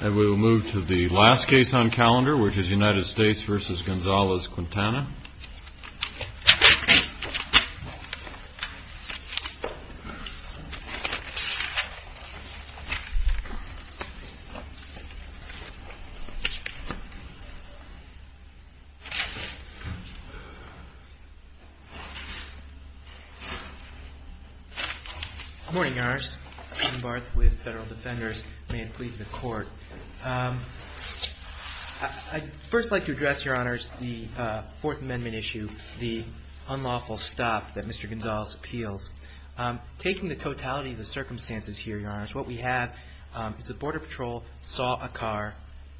And we will move to the last case on calendar, which is United States v. Gonzalez-Quintana. Good morning, Your Honors. Steven Barth with Federal Defenders. May it please the Court. I'd first like to address, Your Honors, the Fourth Amendment issue, the unlawful stop that Mr. Gonzalez appeals. Taking the totality of the circumstances here, Your Honors, what we have is the Border Patrol saw a car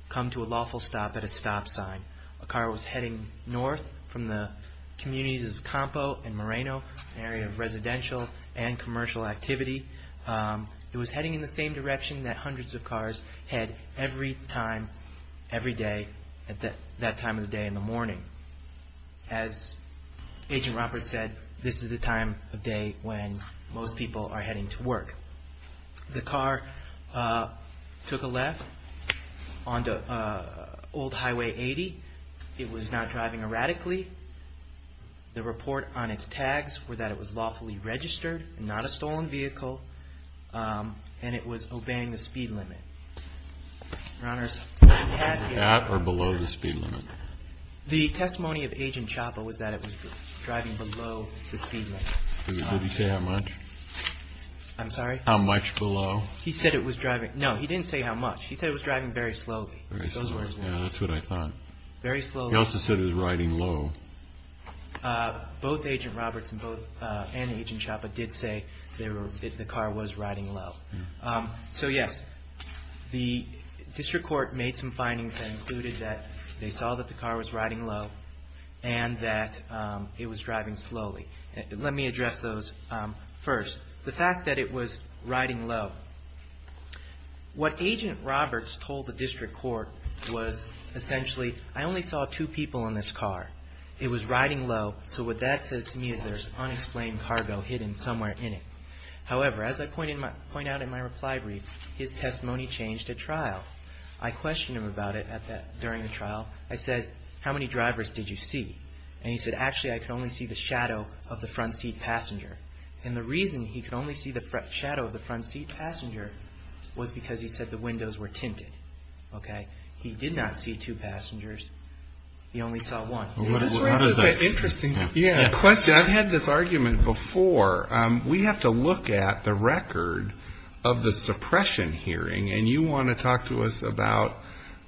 come to a lawful stop at a stop sign. A car was heading north from the communities of Campo and Moreno, an area of residential and commercial activity. It was heading in the same direction that hundreds of cars head every time, every day, at that time of the day in the morning. As Agent Roberts said, this is the time of day when most people are heading to work. The car took a left onto Old Highway 80. It was not driving erratically. The report on its tags were that it was lawfully registered, not a stolen vehicle, and it was obeying the speed limit. Your Honors, we have here... At or below the speed limit? The testimony of Agent Chapa was that it was driving below the speed limit. Did he say how much? I'm sorry? How much below? He said it was driving... No, he didn't say how much. He said it was driving very slowly. Very slowly. Those were his words. Yeah, that's what I thought. Very slowly. He also said it was riding low. Both Agent Roberts and Agent Chapa did say the car was riding low. So yes, the District Court made some findings that included that they saw that the car was riding low and that it was driving slowly. Let me address those first. The fact that it was riding low. What Agent Roberts told the District Court was essentially, I only saw two people in this car. It was riding low, so what that says to me is there's unexplained cargo hidden somewhere in it. However, as I point out in my reply brief, his testimony changed at trial. I questioned him about it during the trial. I said, how many drivers did you see? And he said, actually, I could only see the shadow of the front seat passenger. And the reason he could only see the shadow of the front seat passenger was because he said the windows were tinted. Okay? He did not see two passengers. He only saw one. Interesting question. I've had this argument before. We have to look at the record of the suppression hearing, and you want to talk to us about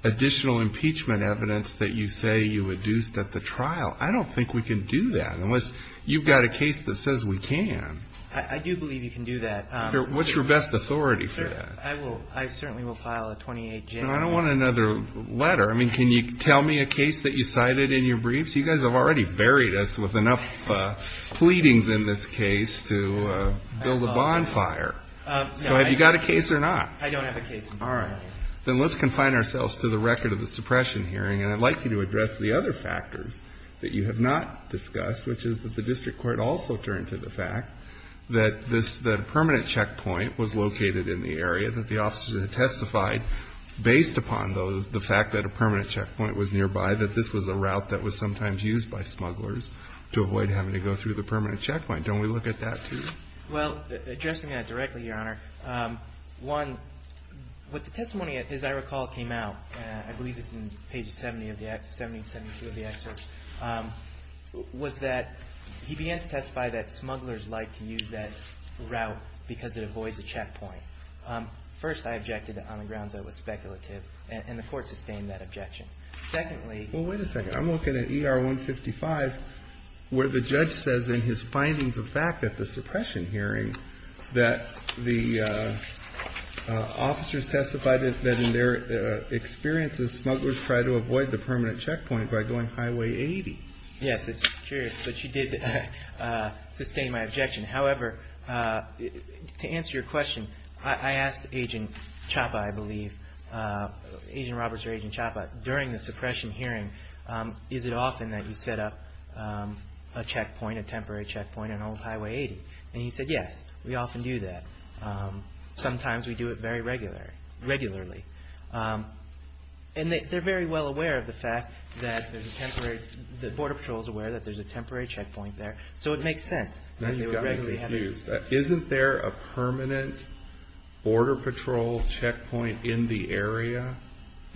additional impeachment evidence that you say you reduced at the trial. I don't think we can do that unless you've got a case that says we can. I do believe you can do that. What's your best authority for that? I certainly will file a 28-general. I don't want another letter. I mean, can you tell me a case that you cited in your briefs? You guys have already buried us with enough pleadings in this case to build a bonfire. So have you got a case or not? I don't have a case. All right. Then let's confine ourselves to the record of the suppression hearing. And I'd like you to address the other factors that you have not discussed, which is that the district court also turned to the fact that this permanent checkpoint was located in the area that the officers had testified based upon the fact that a permanent checkpoint was nearby, that this was a route that was sometimes used by smugglers to avoid having to go through the permanent checkpoint. Don't we look at that, too? Well, addressing that directly, Your Honor, one, what the testimony, as I recall, came out. I believe this is in page 70 of the excerpt, 70, 72 of the excerpt, was that he began to testify that smugglers liked to use that route because it avoids a checkpoint. First, I objected on the grounds that it was speculative, and the court sustained that objection. Secondly. Well, wait a second. I'm looking at ER 155 where the judge says in his findings of fact at the suppression hearing that the officers testified that in their experiences smugglers tried to avoid the permanent checkpoint by going Highway 80. Yes, it's true, but you did sustain my objection. However, to answer your question, I asked Agent Chapa, I believe, Agent Roberts or Agent Chapa, during the suppression hearing, is it often that you set up a checkpoint, a temporary checkpoint on Old Highway 80? And he said, yes, we often do that. Sometimes we do it very regularly. And they're very well aware of the fact that there's a temporary, that Border Patrol is aware that there's a temporary checkpoint there. So it makes sense that they would regularly have it. Isn't there a permanent Border Patrol checkpoint in the area?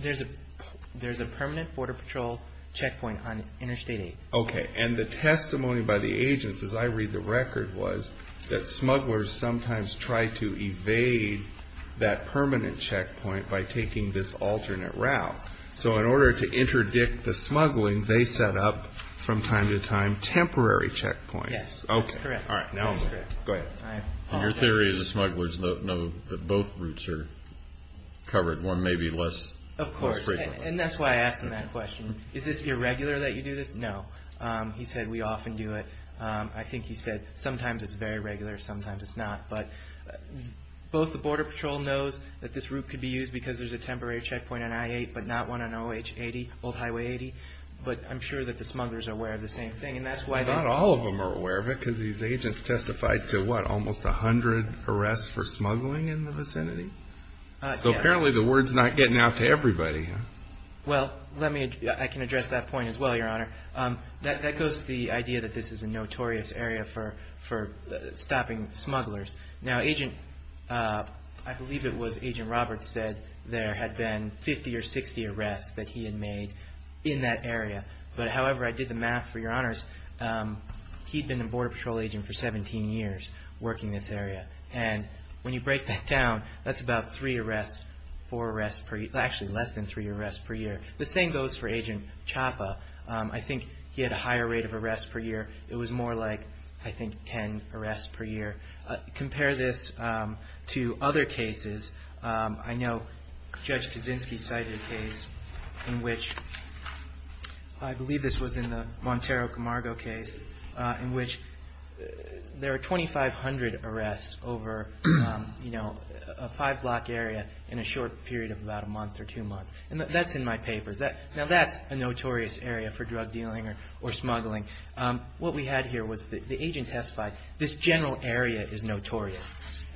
There's a permanent Border Patrol checkpoint on Interstate 8. Okay. And the testimony by the agents, as I read the record, was that smugglers sometimes try to evade that permanent checkpoint by taking this alternate route. So in order to interdict the smuggling, they set up from time to time temporary checkpoints. Yes. Okay. That's correct. All right. Go ahead. Your theory is that smugglers know that both routes are covered, one maybe less frequently. Of course. And that's why I asked him that question. Is this irregular that you do this? No. He said, we often do it. I think he said, sometimes it's very regular, sometimes it's not. But both the Border Patrol knows that this route could be used because there's a temporary checkpoint on I-8, but not one on Old Highway 80. But I'm sure that the smugglers are aware of the same thing. And that's why they – Not all of them are aware of it because these agents testified to, what, almost 100 arrests for smuggling in the vicinity? Yes. So apparently the word's not getting out to everybody. Well, let me – I can address that point as well, Your Honor. That goes to the idea that this is a notorious area for stopping smugglers. Now, Agent – I believe it was Agent Roberts said there had been 50 or 60 arrests that he had made in that area. But however I did the math, for Your Honors, he'd been a Border Patrol agent for 17 years working this area. And when you break that down, that's about three arrests, four arrests per – actually, less than three arrests per year. The same goes for Agent Chapa. I think he had a higher rate of arrests per year. It was more like, I think, 10 arrests per year. Compare this to other cases. I know Judge Kaczynski cited a case in which – I believe this was in the Montero Camargo case – in which there are 2,500 arrests over, you know, a five-block area in a short period of about a month or two months. And that's in my papers. Now, that's a notorious area for drug dealing or smuggling. What we had here was the agent testified, this general area is notorious.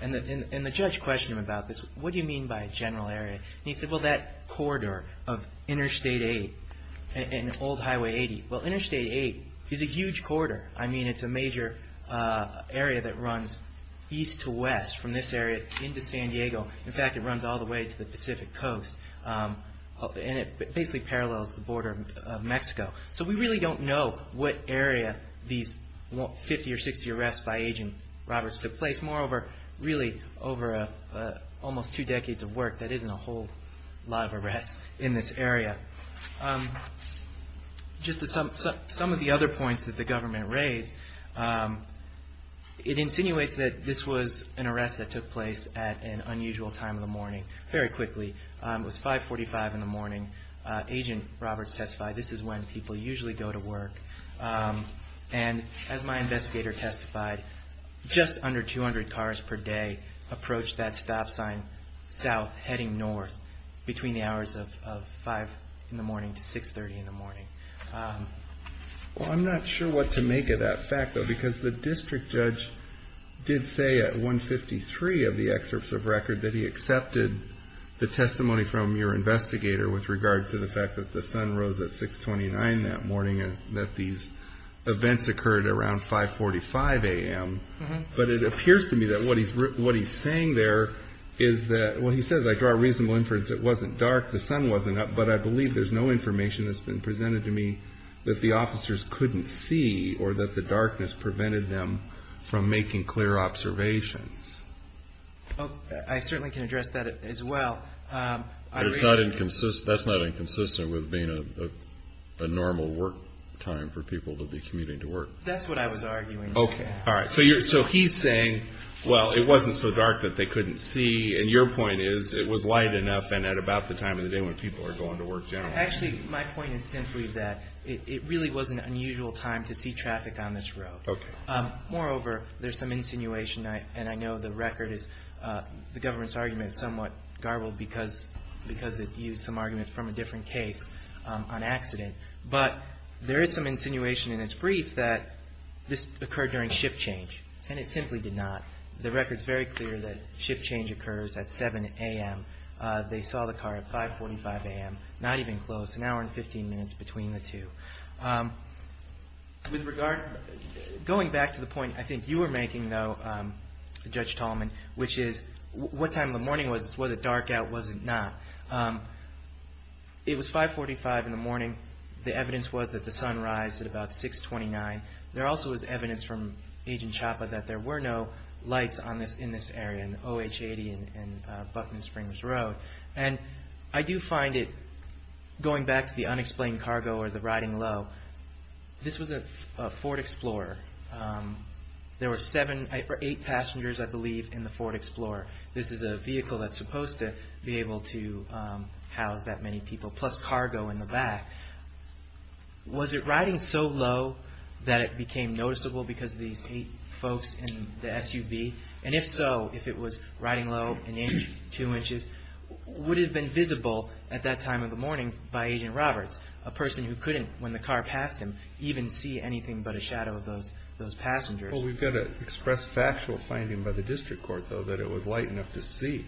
And the judge questioned him about this. What do you mean by a general area? And he said, well, that corridor of Interstate 8 and Old Highway 80. Well, Interstate 8 is a huge corridor. I mean, it's a major area that runs east to west from this area into San Diego. In fact, it runs all the way to the Pacific Coast. And it basically parallels the border of Mexico. So we really don't know what area these 50 or 60 arrests by Agent Roberts took place. Moreover, really over almost two decades of work, that isn't a whole lot of arrests in this area. Just some of the other points that the government raised. It insinuates that this was an arrest that took place at an unusual time of the morning, very quickly. It was 545 in the morning. Agent Roberts testified, this is when people usually go to work. And as my investigator testified, just under 200 cars per day approached that stop sign south heading north between the hours of 5 in the morning to 6.30 in the morning. Well, I'm not sure what to make of that fact, though, because the district judge did say at 1.53 of the excerpts of record that he accepted the testimony from your investigator with regard to the fact that the sun rose at 6.29 that morning and that these events occurred around 5.45 a.m. But it appears to me that what he's saying there is that, well, he says, I draw a reasonable inference it wasn't dark, the sun wasn't up, but I believe there's no information that's been presented to me that the officers couldn't see or that the darkness prevented them from making clear observations. I certainly can address that as well. That's not inconsistent with being a normal work time for people to be commuting to work. That's what I was arguing. Okay. All right. So he's saying, well, it wasn't so dark that they couldn't see, and your point is it was light enough and at about the time of the day when people are going to work generally. Actually, my point is simply that it really was an unusual time to see traffic on this road. Okay. Moreover, there's some insinuation, and I know the record is the government's argument is somewhat garbled because it used some arguments from a different case on accident. But there is some insinuation in its brief that this occurred during shift change, and it simply did not. The record is very clear that shift change occurs at 7 a.m. They saw the car at 5.45 a.m., not even close, an hour and 15 minutes between the two. With regard, going back to the point I think you were making, though, Judge Tallman, which is what time of the morning was this? Was it dark out? Was it not? It was 5.45 in the morning. The evidence was that the sun rised at about 6.29. There also was evidence from Agent Chapa that there were no lights in this area, in OH80 and Buckman Springs Road. I do find it, going back to the unexplained cargo or the riding low, this was a Ford Explorer. There were eight passengers, I believe, in the Ford Explorer. This is a vehicle that's supposed to be able to house that many people, plus cargo in the back. Was it riding so low that it became noticeable because of these eight folks in the SUV? And if so, if it was riding low and in two inches, would it have been visible at that time of the morning by Agent Roberts, a person who couldn't, when the car passed him, even see anything but a shadow of those passengers? Well, we've got to express factual finding by the district court, though, that it was light enough to see.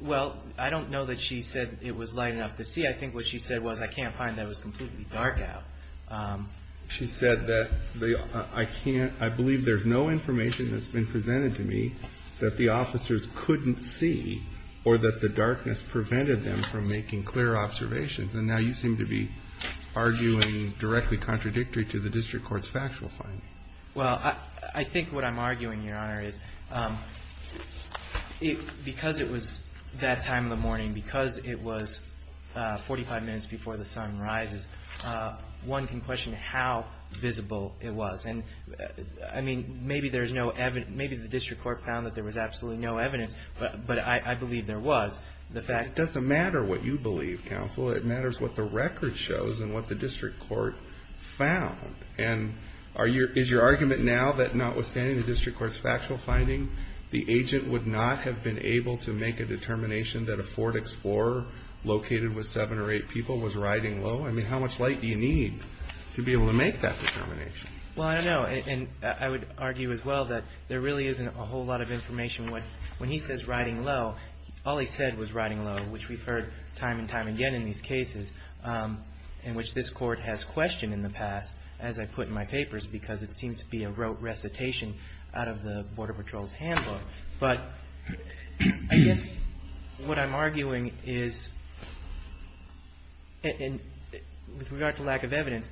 Well, I don't know that she said it was light enough to see. I think what she said was, I can't find that it was completely dark out. She said that I believe there's no information that's been presented to me that the officers couldn't see or that the darkness prevented them from making clear observations. And now you seem to be arguing directly contradictory to the district court's factual finding. Well, I think what I'm arguing, Your Honor, is because it was that time of the morning, because it was 45 minutes before the sun rises, one can question how visible it was. And, I mean, maybe there's no evidence. Maybe the district court found that there was absolutely no evidence, but I believe there was. It doesn't matter what you believe, counsel. It matters what the record shows and what the district court found. And is your argument now that notwithstanding the district court's factual finding, the agent would not have been able to make a determination that a Ford Explorer located with seven or eight people was riding low? I mean, how much light do you need to be able to make that determination? Well, I don't know. And I would argue as well that there really isn't a whole lot of information. When he says riding low, all he said was riding low, which we've heard time and time again in these cases, in which this court has questioned in the past, as I put in my papers, because it seems to be a rote recitation out of the Border Patrol's handbook. But I guess what I'm arguing is, with regard to lack of evidence,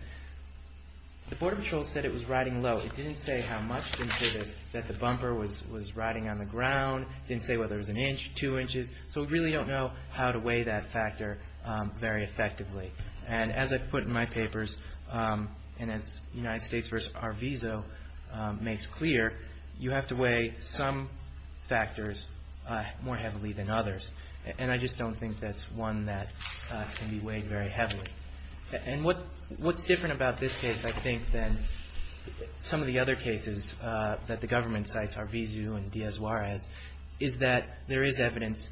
the Border Patrol said it was riding low. It didn't say how much. It didn't say that the bumper was riding on the ground. It didn't say whether it was an inch, two inches. So we really don't know how to weigh that factor very effectively. And as I put in my papers, and as United States v. Arvizo makes clear, you have to weigh some factors more heavily than others. And I just don't think that's one that can be weighed very heavily. And what's different about this case, I think, than some of the other cases that the government cites, Arvizo and Diaz-Juarez, is that there is evidence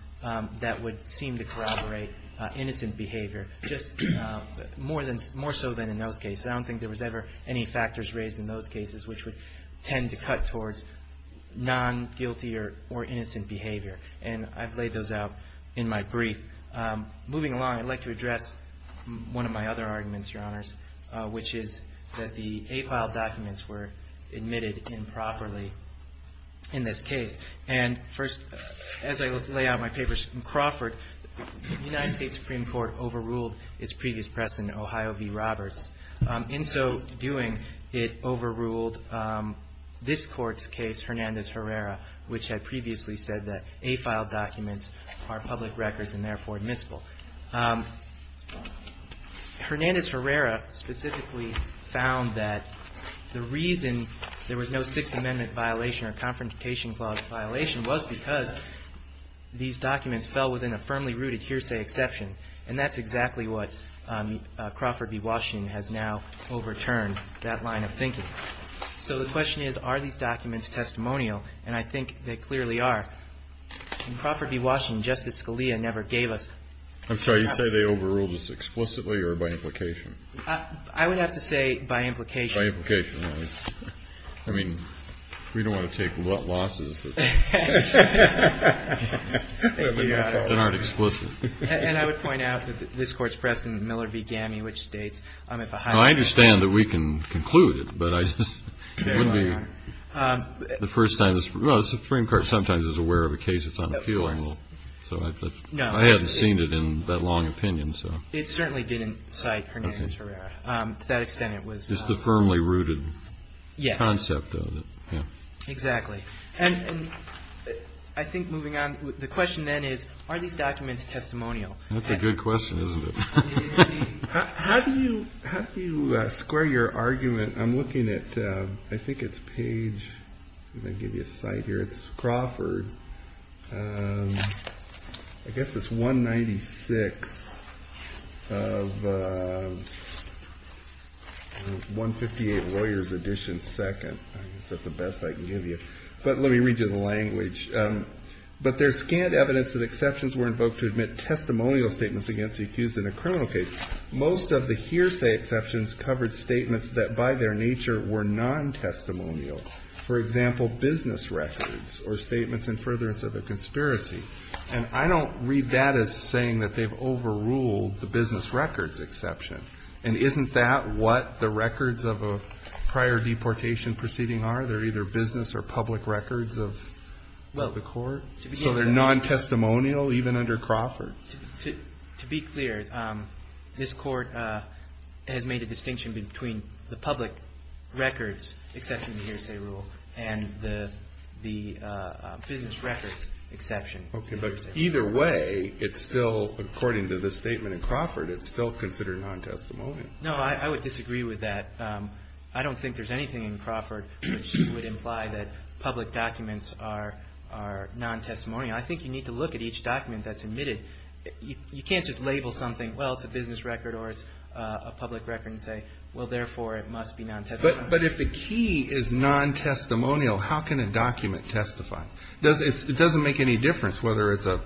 that would seem to corroborate innocent behavior, just more so than in those cases. I don't think there was ever any factors raised in those cases which would tend to cut towards non-guilty or innocent behavior. And I've laid those out in my brief. Moving along, I'd like to address one of my other arguments, Your Honors, which is that the A-file documents were admitted improperly in this case. And first, as I lay out in my papers from Crawford, the United States Supreme Court overruled its previous precedent, Ohio v. Roberts. In so doing, it overruled this Court's case, Hernandez-Herrera, which had previously said that A-file documents are public records and therefore admissible. Hernandez-Herrera specifically found that the reason there was no Sixth Amendment violation or Confrontation Clause violation was because these documents fell within a firmly rooted hearsay exception. And that's exactly what Crawford v. Washington has now overturned, that line of thinking. So the question is, are these documents testimonial? And I think they clearly are. In Crawford v. Washington, Justice Scalia never gave us a copy. I'm sorry. You say they overruled this explicitly or by implication? I would have to say by implication. By implication. I mean, we don't want to take losses that aren't explicit. And I would point out that this Court's precedent, Miller v. Gammey, which states if Ohio v. I understand that we can conclude it, but I just wouldn't be the first time. Well, the Supreme Court sometimes is aware of a case that's on appeal. So I haven't seen it in that long opinion, so. It certainly didn't cite Hernandez-Herrera. To that extent, it was not. It was a commonly rooted concept, though. Yes. Exactly. And I think moving on, the question then is, are these documents testimonial? That's a good question, isn't it? It is indeed. How do you square your argument? I'm looking at, I think it's page, let me give you a site here, it's Crawford. I guess it's 196 of 158, lawyer's edition, second. I guess that's the best I can give you. But let me read you the language. But there's scant evidence that exceptions were invoked to admit testimonial statements against the accused in a criminal case. Most of the hearsay exceptions covered statements that by their nature were non-testimonial. For example, business records or statements in furtherance of a conspiracy. And I don't read that as saying that they've overruled the business records exception. And isn't that what the records of a prior deportation proceeding are? They're either business or public records of the court? So they're non-testimonial even under Crawford? To be clear, this Court has made a distinction between the public records exception to the hearsay rule and the business records exception. Okay. But either way, it's still, according to this statement in Crawford, it's still considered non-testimonial. No, I would disagree with that. I don't think there's anything in Crawford which would imply that public documents are non-testimonial. I think you need to look at each document that's admitted. You can't just label something, well, it's a business record or it's a public record and say, well, therefore, it must be non-testimonial. But if the key is non-testimonial, how can a document testify? It doesn't make any difference whether it's a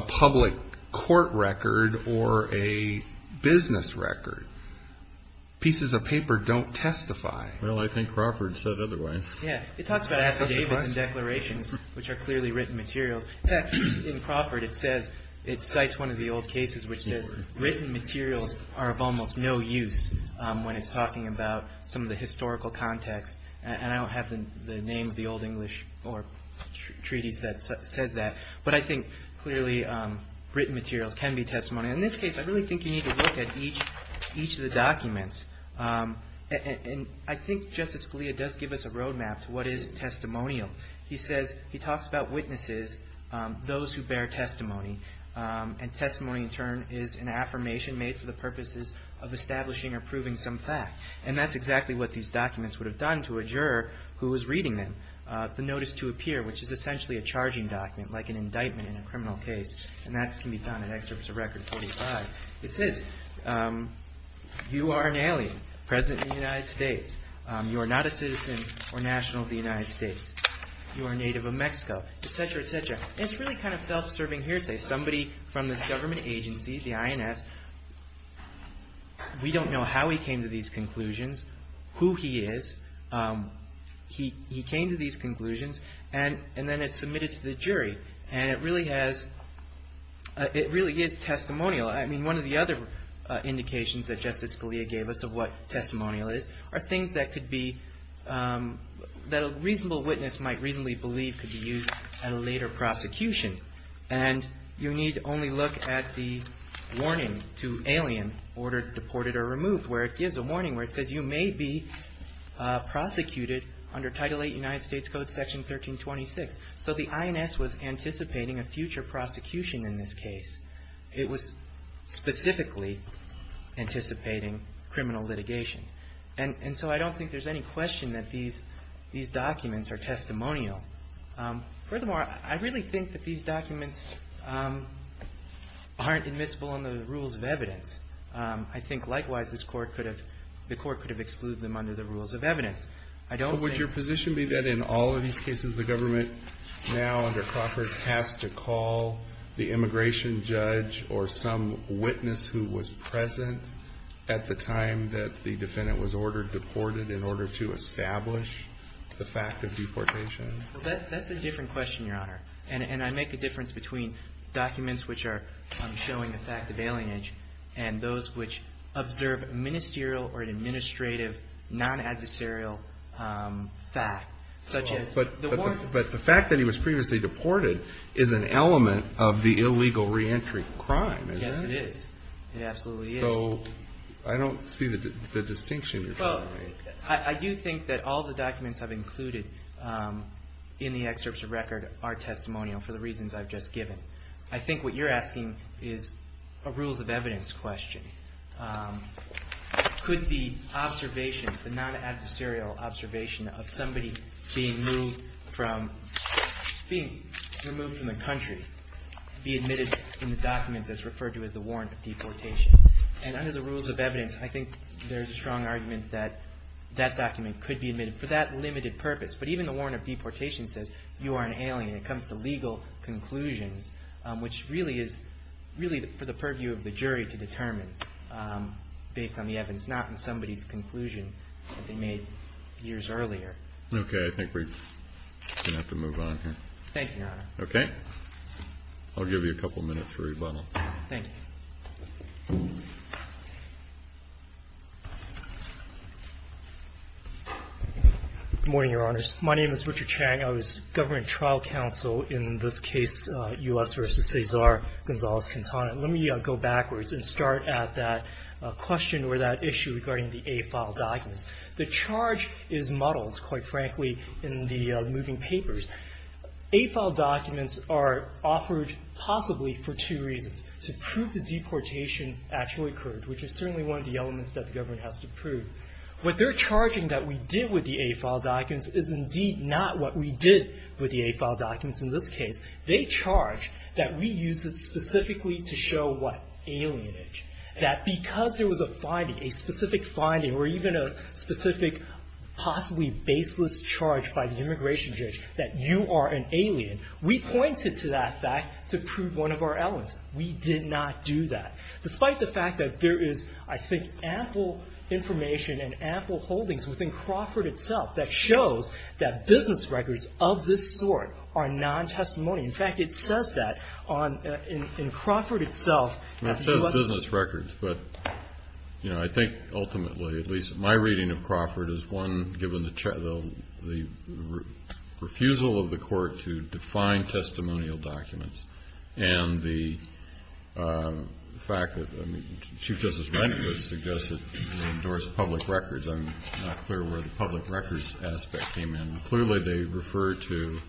public court record or a business record. Pieces of paper don't testify. Well, I think Crawford said otherwise. Yeah. It talks about affidavits and declarations, which are clearly written materials. In fact, in Crawford, it says, it cites one of the old cases which says written materials are of almost no use when it's talking about some of the historical context. And I don't have the name of the Old English or treaties that says that. But I think clearly written materials can be testimony. In this case, I really think you need to look at each of the documents. And I think Justice Scalia does give us a road map to what is testimonial. He says he talks about witnesses, those who bear testimony. And testimony, in turn, is an affirmation made for the purposes of establishing or proving some fact. And that's exactly what these documents would have done to a juror who was reading them. The notice to appear, which is essentially a charging document, like an indictment in a criminal case. And that can be found in Excerpts of Record 45. It says, you are an alien present in the United States. You are not a citizen or national of the United States. You are a native of Mexico, etc., etc. It's really kind of self-serving hearsay. Somebody from this government agency, the INS, we don't know how he came to these conclusions, who he is. He came to these conclusions, and then it's submitted to the jury. And it really is testimonial. I mean, one of the other indications that Justice Scalia gave us of what testimonial is, are things that a reasonable witness might reasonably believe could be used at a later prosecution. And you need only look at the warning to alien, ordered, deported, or removed, where it gives a warning where it says you may be prosecuted under Title VIII United States Code, Section 1326. So the INS was anticipating a future prosecution in this case. It was specifically anticipating criminal litigation. And so I don't think there's any question that these documents are testimonial. Furthermore, I really think that these documents aren't admissible under the rules of evidence. I think, likewise, the court could have excluded them under the rules of evidence. I don't think Would your position be that in all of these cases, the government now, under Crawford, has to call the immigration judge or some witness who was present at the time that the defendant was ordered deported in order to establish the fact of deportation? Well, that's a different question, Your Honor. And I make a difference between documents which are showing the fact of alienage and those which observe a ministerial or an administrative non-adversarial fact, such as the warrant. But the fact that he was previously deported is an element of the illegal reentry crime, is it? Yes, it is. It absolutely is. So I don't see the distinction you're trying to make. Well, I do think that all the documents I've included in the excerpts of record are testimonial for the reasons I've just given. I think what you're asking is a rules of evidence question. Could the observation, the non-adversarial observation of somebody being moved from the country be admitted in the document that's referred to as the warrant of deportation? And under the rules of evidence, I think there's a strong argument that that document could be admitted for that limited purpose. But even the warrant of deportation says you are an alien. It comes to legal conclusions, which really is for the purview of the jury to determine based on the evidence, not in somebody's conclusion that they made years earlier. Okay. I think we're going to have to move on here. Thank you, Your Honor. I'll give you a couple minutes for rebuttal. Thank you. Good morning, Your Honors. My name is Richard Chang. I was government trial counsel in this case, U.S. v. Cesar Gonzalez-Quintana. Let me go backwards and start at that question or that issue regarding the A-file documents. The charge is muddled, quite frankly, in the moving papers. A-file documents are offered possibly for two reasons. To prove the deportation actually occurred, which is certainly one of the elements that the government has to prove. What they're charging that we did with the A-file documents is indeed not what we did with the A-file documents in this case. They charge that we used it specifically to show what? Alienage. That because there was a finding, a specific finding, or even a specific possibly baseless charge by the immigration judge that you are an alien, we pointed to that fact to prove one of our elements. We did not do that. Despite the fact that there is, I think, ample information and ample holdings within Crawford itself that shows that business records of this sort are non-testimony. In fact, it says that in Crawford itself. It says business records, but I think ultimately, at least my reading of Crawford, is one given the refusal of the court to define testimonial documents and the fact that Chief Justice Rehnquist suggested to endorse public records. I'm not clear where the public records aspect came in. Clearly they refer to,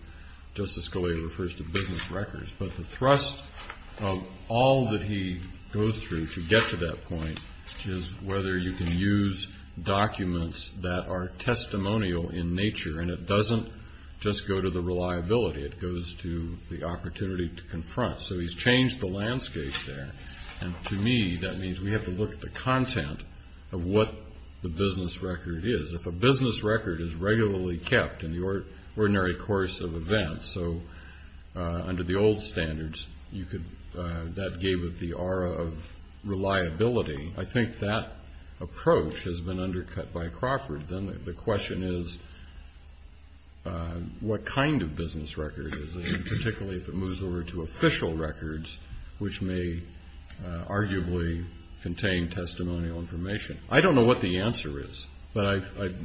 Justice Scalia refers to business records, but the thrust of all that he goes through to get to that point is whether you can use documents that are testimonial in nature, and it doesn't just go to the reliability. It goes to the opportunity to confront, so he's changed the landscape there, and to me that means we have to look at the content of what the business record is. If a business record is regularly kept in the ordinary course of events, so under the old standards that gave it the aura of reliability, I think that approach has been undercut by Crawford. Then the question is what kind of business record is it, particularly if it moves over to official records, which may arguably contain testimonial information. I don't know what the answer is, but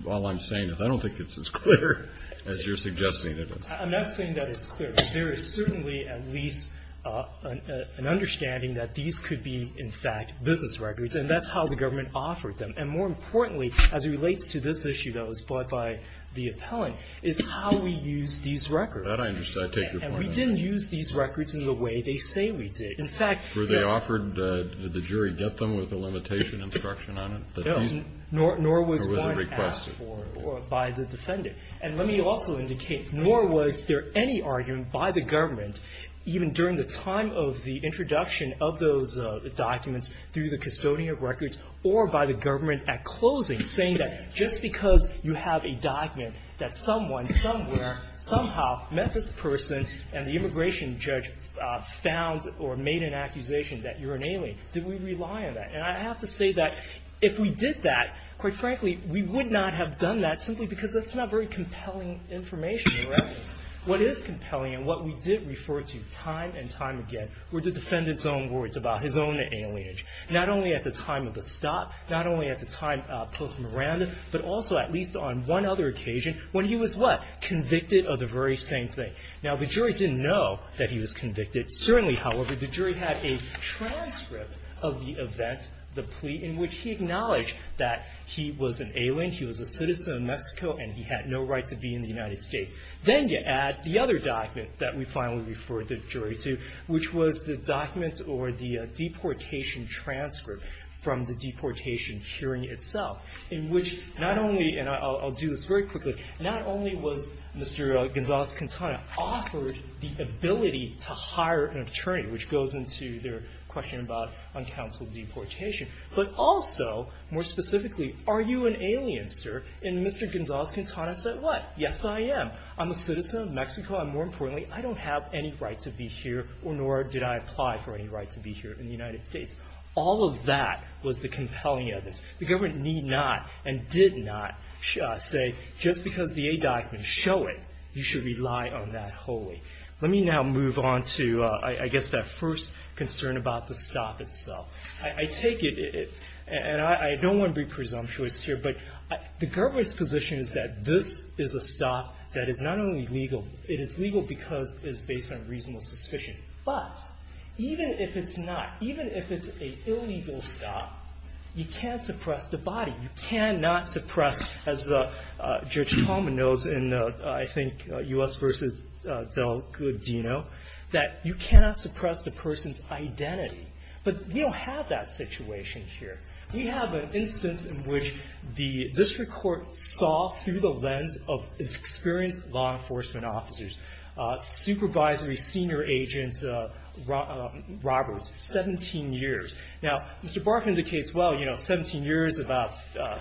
all I'm saying is I don't think it's as clear as you're suggesting it is. I'm not saying that it's clear, but there is certainly at least an understanding that these could be, in fact, business records, and that's how the government offered them. More importantly, as it relates to this issue that was brought by the appellant, is how we use these records. That I understand. I take your point. We didn't use these records in the way they say we did. In fact- Did the jury get them with a limitation instruction on it? No, nor was one asked for by the defendant. Let me also indicate, nor was there any argument by the government, even during the time of the introduction of those documents through the custodian of records or by the government at closing, saying that just because you have a document that someone, somewhere, somehow, met this person and the immigration judge found or made an accusation that you're an alien, did we rely on that? And I have to say that if we did that, quite frankly, we would not have done that simply because that's not very compelling information or evidence. What is compelling and what we did refer to time and time again were the defendant's own words about his own alienage, not only at the time of the stop, not only at the time post-Miranda, but also at least on one other occasion when he was what? Convicted of the very same thing. Now, the jury didn't know that he was convicted. Certainly, however, the jury had a transcript of the event, the plea, in which he acknowledged that he was an alien, he was a citizen of Mexico, and he had no right to be in the United States. Then you add the other document that we finally referred the jury to, which was the document or the deportation transcript from the deportation hearing itself, in which not only, and I'll do this very quickly, not only was Mr. Gonzalez-Quintana offered the ability to hire an attorney, which goes into their question about uncounseled deportation, but also, more specifically, are you an alien, sir? And Mr. Gonzalez-Quintana said what? Yes, I am. I'm a citizen of Mexico. And more importantly, I don't have any right to be here, nor did I apply for any right to be here in the United States. All of that was the compelling evidence. The government need not and did not say just because the A document show it, you should rely on that wholly. Let me now move on to, I guess, that first concern about the stop itself. I take it, and I don't want to be presumptuous here, but the government's position is that this is a stop that is not only legal, it is legal because it is based on reasonable suspicion. But even if it's not, even if it's an illegal stop, you can't suppress the body. You cannot suppress, as Judge Coleman knows in, I think, U.S. v. Del Godino, that you cannot suppress the person's identity. But we don't have that situation here. We have an instance in which the district court saw through the lens of its experienced law enforcement officers, supervisory senior agent Roberts, 17 years. Now, Mr. Barker indicates, well, you know, 17 years, about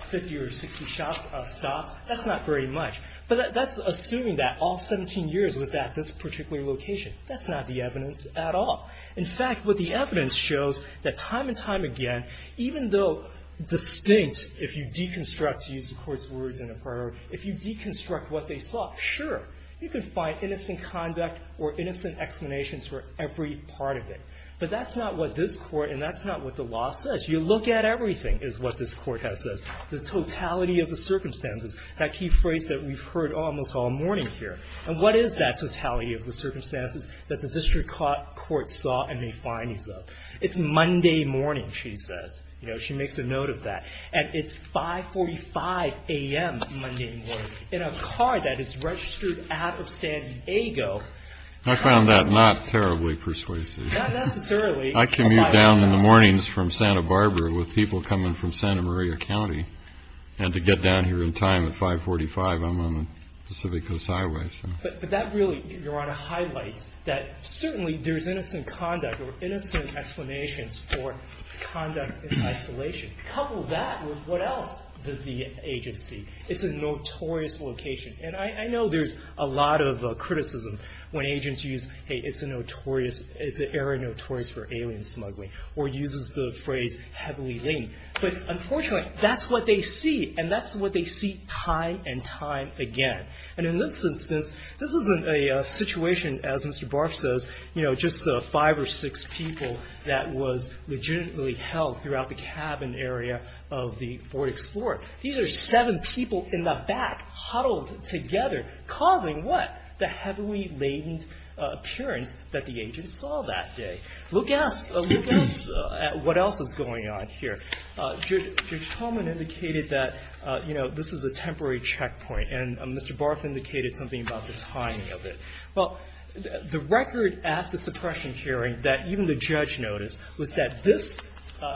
50 or 60 stops, that's not very much. But that's assuming that all 17 years was at this particular location. That's not the evidence at all. In fact, what the evidence shows, that time and time again, even though distinct if you deconstruct, to use the Court's words in a prior, if you deconstruct what they saw, sure, you can find innocent conduct or innocent explanations for every part of it. But that's not what this Court and that's not what the law says. You look at everything, is what this Court has said, the totality of the circumstances, that key phrase that we've heard almost all morning here. And what is that totality of the circumstances that the district court saw and may find these of? It's Monday morning, she says. You know, she makes a note of that. And it's 5.45 a.m. Monday morning. In a car that is registered out of San Diego. I found that not terribly persuasive. Not necessarily. I commute down in the mornings from Santa Barbara with people coming from Santa Maria County. And to get down here in time at 5.45, I'm on the Pacific Coast Highway. But that really, Your Honor, highlights that certainly there's innocent conduct or innocent explanations for conduct in isolation. Couple that with what else did the agency? It's a notorious location. And I know there's a lot of criticism when agents use, hey, it's a notorious, it's an area notorious for alien smuggling. Or uses the phrase heavily linged. But unfortunately, that's what they see. And that's what they see time and time again. And in this instance, this isn't a situation, as Mr. Barff says, you know, just five or six people that was legitimately held throughout the cabin area of the Ford Explorer. These are seven people in the back huddled together. Causing what? The heavily laden appearance that the agent saw that day. Look at what else is going on here. Judge Tolman indicated that, you know, this is a temporary checkpoint. And Mr. Barff indicated something about the timing of it. Well, the record at the suppression hearing that even the judge noticed was that this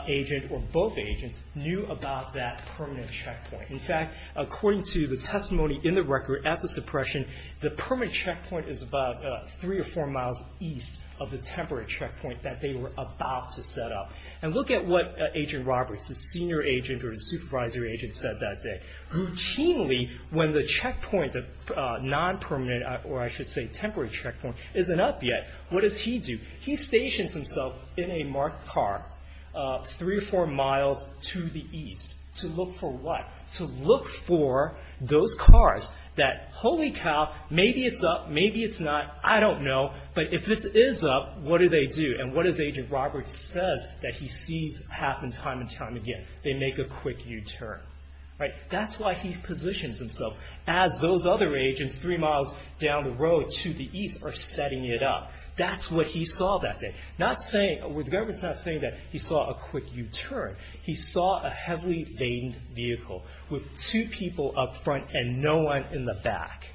agent or both agents knew about that permanent checkpoint. In fact, according to the testimony in the record at the suppression, the permanent checkpoint is about three or four miles east of the temporary checkpoint that they were about to set up. And look at what Agent Roberts, the senior agent or the supervisory agent, said that day. Routinely, when the checkpoint, the non-permanent, or I should say temporary checkpoint, isn't up yet, what does he do? He stations himself in a marked car three or four miles to the east. To look for what? To look for those cars that, holy cow, maybe it's up, maybe it's not, I don't know. But if it is up, what do they do? And what does Agent Roberts say that he sees happen time and time again? They make a quick U-turn. That's why he positions himself as those other agents three miles down the road to the east are setting it up. That's what he saw that day. The government's not saying that he saw a quick U-turn. He saw a heavily-veined vehicle with two people up front and no one in the back.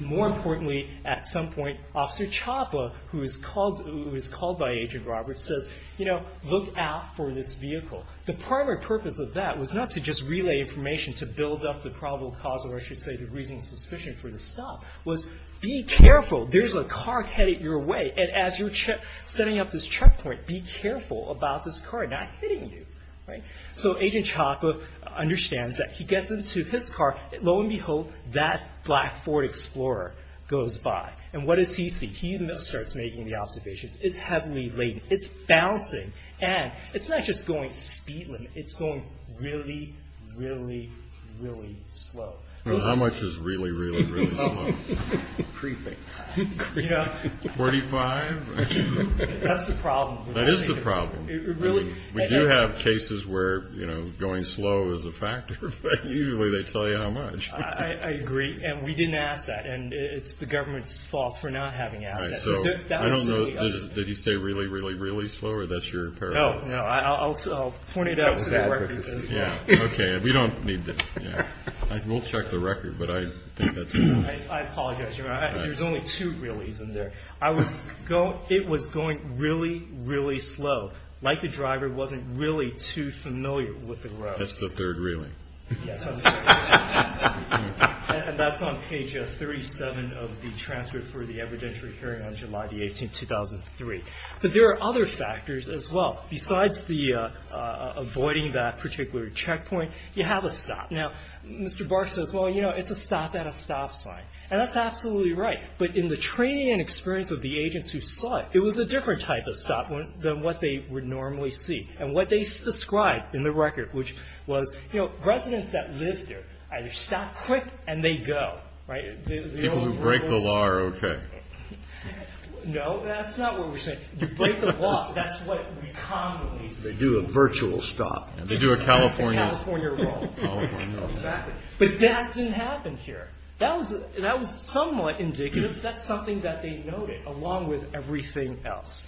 More importantly, at some point, Officer Chapa, who is called by Agent Roberts, says, you know, look out for this vehicle. The primary purpose of that was not to just relay information to build up the probable cause, or I should say the reasonable suspicion for the stop, was be careful. There's a car headed your way, and as you're setting up this checkpoint, be careful about this car not hitting you. So Agent Chapa understands that. He gets into his car. Lo and behold, that black Ford Explorer goes by. And what does he see? He starts making the observations. It's heavily laden. It's bouncing. And it's not just going speedily. It's going really, really, really slow. How much is really, really, really slow? Creeping. Forty-five? That's the problem. That is the problem. Really? We do have cases where, you know, going slow is a factor, but usually they tell you how much. I agree, and we didn't ask that, and it's the government's fault for not having asked that. I don't know. Did you say really, really, really slow, or that's your parallel? No. I'll point it out to the record. Okay. We don't need that. We'll check the record, but I think that's enough. I apologize. There's only two reallys in there. It was going really, really slow, like the driver wasn't really too familiar with the road. That's the third really. Yes. And that's on page 37 of the transfer for the evidentiary hearing on July the 18th, 2003. But there are other factors as well. Besides avoiding that particular checkpoint, you have a stop. Now, Mr. Barsh says, well, you know, it's a stop at a stop sign, and that's absolutely right. But in the training and experience of the agents who saw it, it was a different type of stop than what they would normally see. And what they described in the record, which was, you know, residents that live there either stop quick and they go, right? People who break the law are okay. No, that's not what we're saying. You break the law, that's what we commonly see. They do a virtual stop. They do a California roll. Exactly. But that didn't happen here. That was somewhat indicative. That's something that they noted, along with everything else.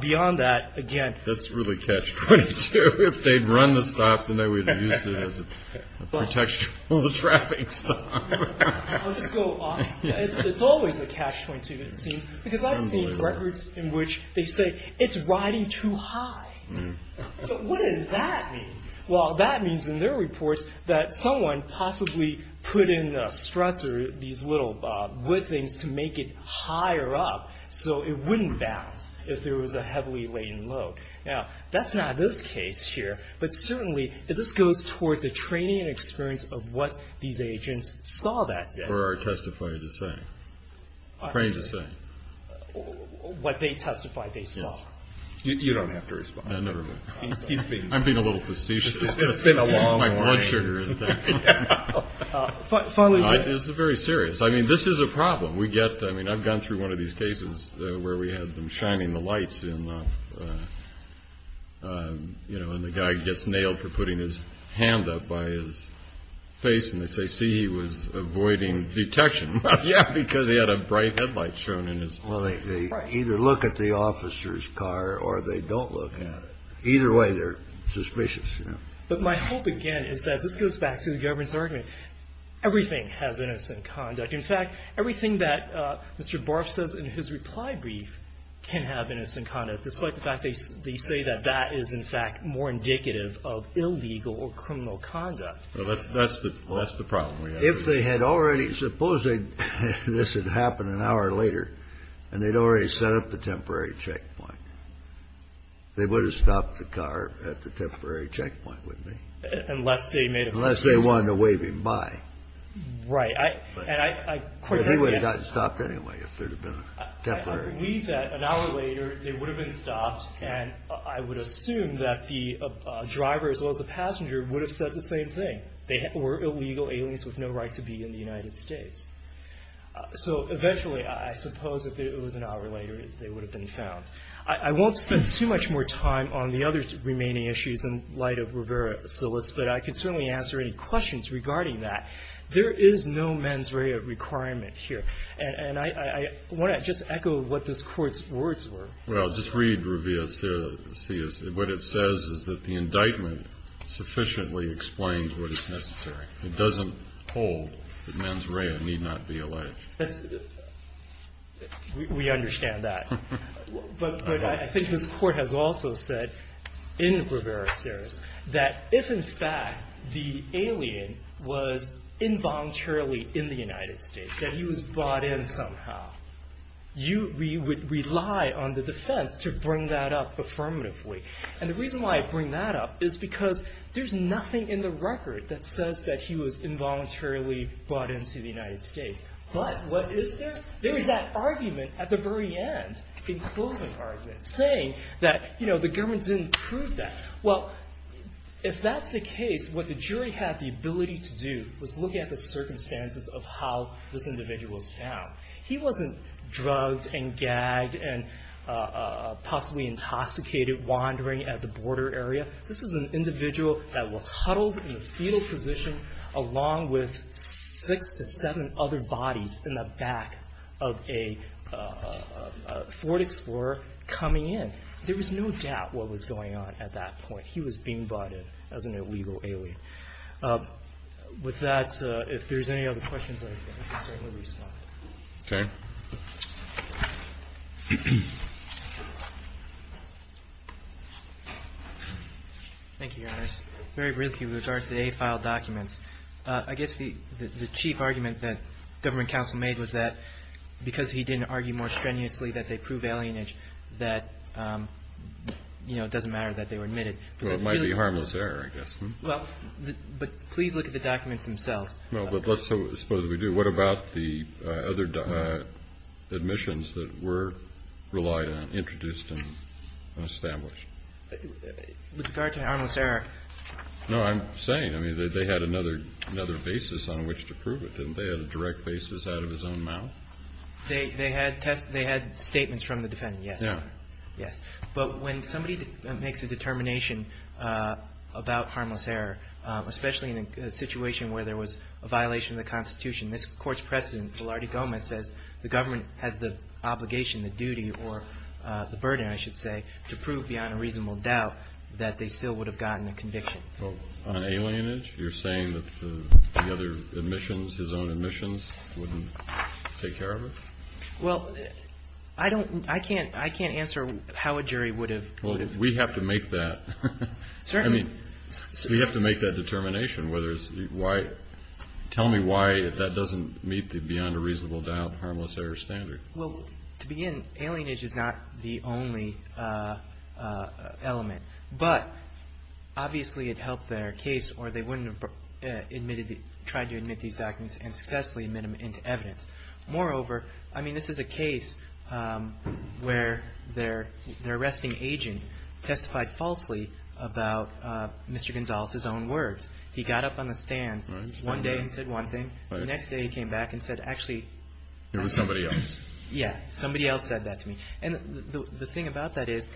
Beyond that, again. That's really catch-22. If they'd run the stop, then they would have used it as a protection for the traffic stop. I'll just go off. It's always a catch-22, it seems. Because I've seen records in which they say, it's riding too high. What does that mean? Well, that means in their reports that someone possibly put in the struts or these little wood things to make it higher up so it wouldn't bounce if there was a heavily laden load. Now, that's not this case here, but certainly this goes toward the training and experience of what these agents saw that day. Or are testifying to say. Trying to say. What they testified they saw. You don't have to respond. No, never mind. I'm being a little facetious. It's been a long way. My blood sugar is down. This is very serious. I mean, this is a problem. We get, I mean, I've gone through one of these cases where we had them shining the lights, and the guy gets nailed for putting his hand up by his face, and they say, see, he was avoiding detection. Yeah, because he had a bright headlight shown in his face. Well, they either look at the officer's car or they don't look at it. Either way, they're suspicious. But my hope, again, is that this goes back to the government's argument. Everything has innocent conduct. In fact, everything that Mr. Barff says in his reply brief can have innocent conduct, despite the fact they say that that is, in fact, more indicative of illegal or criminal conduct. Well, that's the problem. If they had already, suppose this had happened an hour later, and they'd already set up a temporary checkpoint, they would have stopped the car at the temporary checkpoint, wouldn't they? Unless they made a decision. Unless they wanted to wave him by. Right. But he would have gotten stopped anyway if there had been a temporary checkpoint. I believe that an hour later they would have been stopped, and I would assume that the driver as well as the passenger would have said the same thing. They were illegal aliens with no right to be in the United States. So eventually, I suppose if it was an hour later, they would have been found. I won't spend too much more time on the other remaining issues in light of Rivera-Silas, but I can certainly answer any questions regarding that. There is no mens rea requirement here. And I want to just echo what this Court's words were. Well, just read Rivera-Silas. What it says is that the indictment sufficiently explains what is necessary. It doesn't hold that mens rea need not be alleged. We understand that. But I think this Court has also said in Rivera-Silas that if, in fact, the alien was involuntarily in the United States, that he was brought in somehow, we would rely on the defense to bring that up affirmatively. And the reason why I bring that up is because there's nothing in the record that says that he was involuntarily brought into the United States. But what is there? There is that argument at the very end, the closing argument, saying that the government didn't prove that. Well, if that's the case, what the jury had the ability to do was look at the circumstances of how this individual was found. He wasn't drugged and gagged and possibly intoxicated, wandering at the border area. This is an individual that was huddled in the fetal position along with six to seven other bodies in the back of a Ford Explorer coming in. There was no doubt what was going on at that point. He was being brought in as an illegal alien. With that, if there's any other questions, I can certainly respond. Okay. Thank you, Your Honor. Yes. Very briefly with regard to the AFILE documents, I guess the chief argument that government counsel made was that because he didn't argue more strenuously that they prove alienage that, you know, it doesn't matter that they were admitted. Well, it might be harmless error, I guess. Well, but please look at the documents themselves. Well, but let's suppose we do. What about the other admissions that were relied on, introduced and established? With regard to harmless error. No, I'm saying, I mean, they had another basis on which to prove it. Didn't they have a direct basis out of his own mouth? They had statements from the defendant, yes. Yeah. Yes. But when somebody makes a determination about harmless error, especially in a situation where there was a violation of the Constitution, this Court's precedent, Gilardi-Gomez, says the government has the obligation, the duty, or the burden, I should say, to prove beyond a reasonable doubt that they still would have gotten a conviction. Well, on alienage, you're saying that the other admissions, his own admissions, wouldn't take care of it? Well, I don't, I can't, I can't answer how a jury would have. Well, we have to make that. Certainly. I mean, we have to make that determination, whether it's, why, tell me why that doesn't meet the beyond a reasonable doubt harmless error standard. Well, to begin, alienage is not the only element. But, obviously, it helped their case, or they wouldn't have admitted, tried to admit these documents and successfully admit them into evidence. Moreover, I mean, this is a case where their arresting agent testified falsely about Mr. Gonzalez's own words. He got up on the stand one day and said one thing. The next day he came back and said, actually. It was somebody else. Yeah. Somebody else said that to me. And the thing about that is,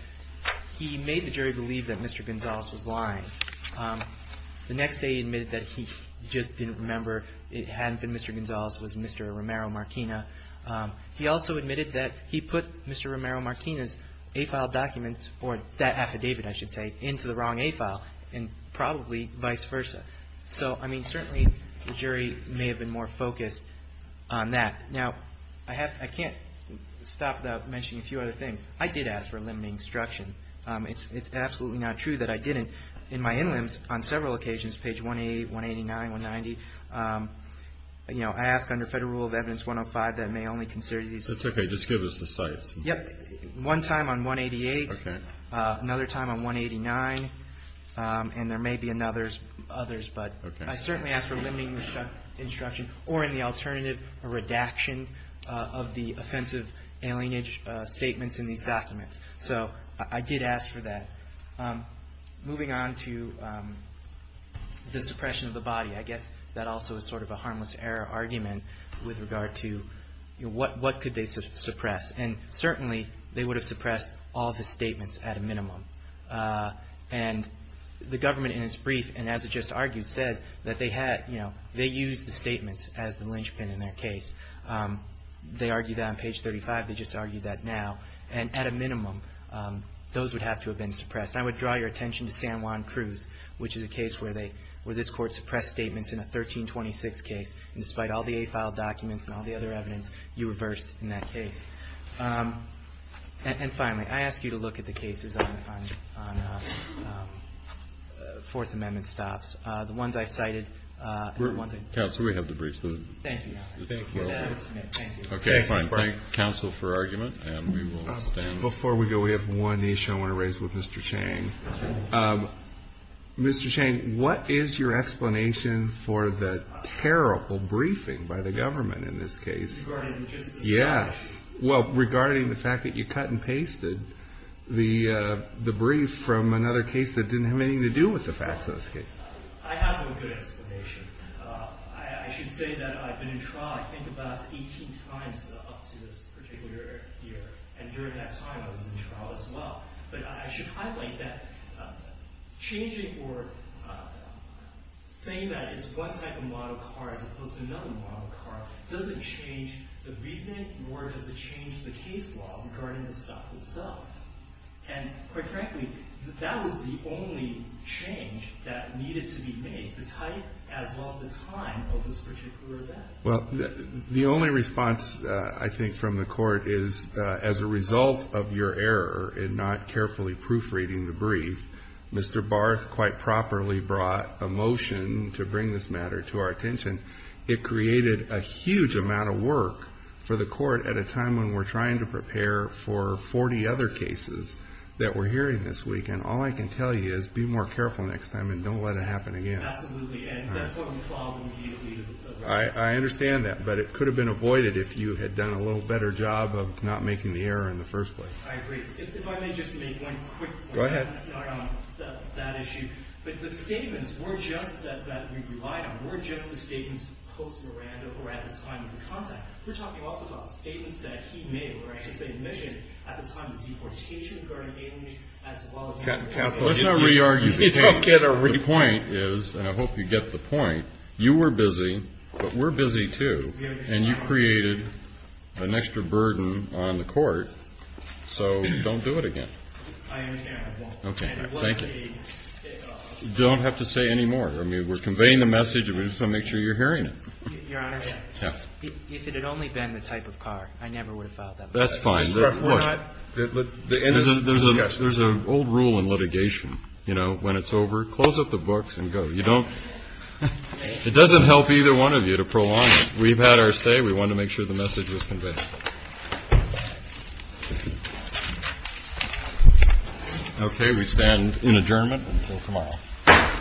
he made the jury believe that Mr. Gonzalez was lying. The next day he admitted that he just didn't remember, it hadn't been Mr. Gonzalez, it was Mr. Romero-Martinez. He also admitted that he put Mr. Romero-Martinez's A-file documents, or that affidavit, I should say, into the wrong A-file, and probably vice versa. So, I mean, certainly the jury may have been more focused on that. Now, I can't stop without mentioning a few other things. I did ask for a limiting instruction. It's absolutely not true that I didn't. In my in-limbs, on several occasions, page 188, 189, 190, I ask under Federal Rule of Evidence 105 that may only consider these. That's okay. Just give us the sites. Yep. One time on 188. Okay. Another time on 189. And there may be others, but I certainly ask for limiting instruction, or in the alternative, a redaction of the offensive alienage statements in these documents. So I did ask for that. Moving on to the suppression of the body, I guess that also is sort of a harmless error argument with regard to what could they suppress. And certainly, they would have suppressed all of the statements at a minimum. And the government, in its brief, and as it just argued, says that they had, you know, they used the statements as the linchpin in their case. They argued that on page 35. They just argued that now. And at a minimum, those would have to have been suppressed. And I would draw your attention to San Juan Cruz, which is a case where this Court suppressed statements in a 1326 case, and despite all the A file documents and all the other evidence, you reversed in that case. And finally, I ask you to look at the cases on Fourth Amendment stops. The ones I cited. Counsel, we have the briefs. Thank you. Thank you. Okay. Fine. Thank counsel for argument. And we will stand. Before we go, we have one issue I want to raise with Mr. Chang. Mr. Chang, what is your explanation for the terrible briefing by the government in this case? Regarding the Justice Department. Yes. Well, regarding the fact that you cut and pasted the brief from another case that didn't have anything to do with the FASCA. I have no good explanation. I should say that I've been in trial I think about 18 times up to this particular year. And during that time, I was in trial as well. But I should highlight that changing or saying that it's one type of model car as opposed to another model car doesn't change the reason nor does it change the case law regarding the stop itself. And, quite frankly, that was the only change that needed to be made, the type as well as the time of this particular event. Well, the only response I think from the court is as a result of your error in not carefully proofreading the brief, Mr. Barth quite properly brought a motion to bring this matter to our attention. It created a huge amount of work for the court at a time when we're trying to prepare for 40 other cases that we're hearing this week. And all I can tell you is be more careful next time and don't let it happen again. Absolutely. And that's one problem. I understand that. But it could have been avoided if you had done a little better job of not making the error in the first place. I agree. If I may just make one quick point. Go ahead. That issue. But the statements were just that we relied on, were just the statements post-Miranda or at the time of the contact. We're talking also about the statements that he made, or I should say admissions, at the time of the deportation regarding age as well as— Let's not re-argue the case. The point is, and I hope you get the point, you were busy, but we're busy too. And you created an extra burden on the court. So don't do it again. I understand. I won't. Okay. Thank you. Don't have to say any more. I mean, we're conveying the message and we just want to make sure you're hearing it. Your Honor, if it had only been the type of car, I never would have filed that motion. That's fine. There's an old rule in litigation. You know, when it's over, close up the books and go. You don't—it doesn't help either one of you to prolong it. We've had our say. We wanted to make sure the message was conveyed. Okay. We stand in adjournment until tomorrow.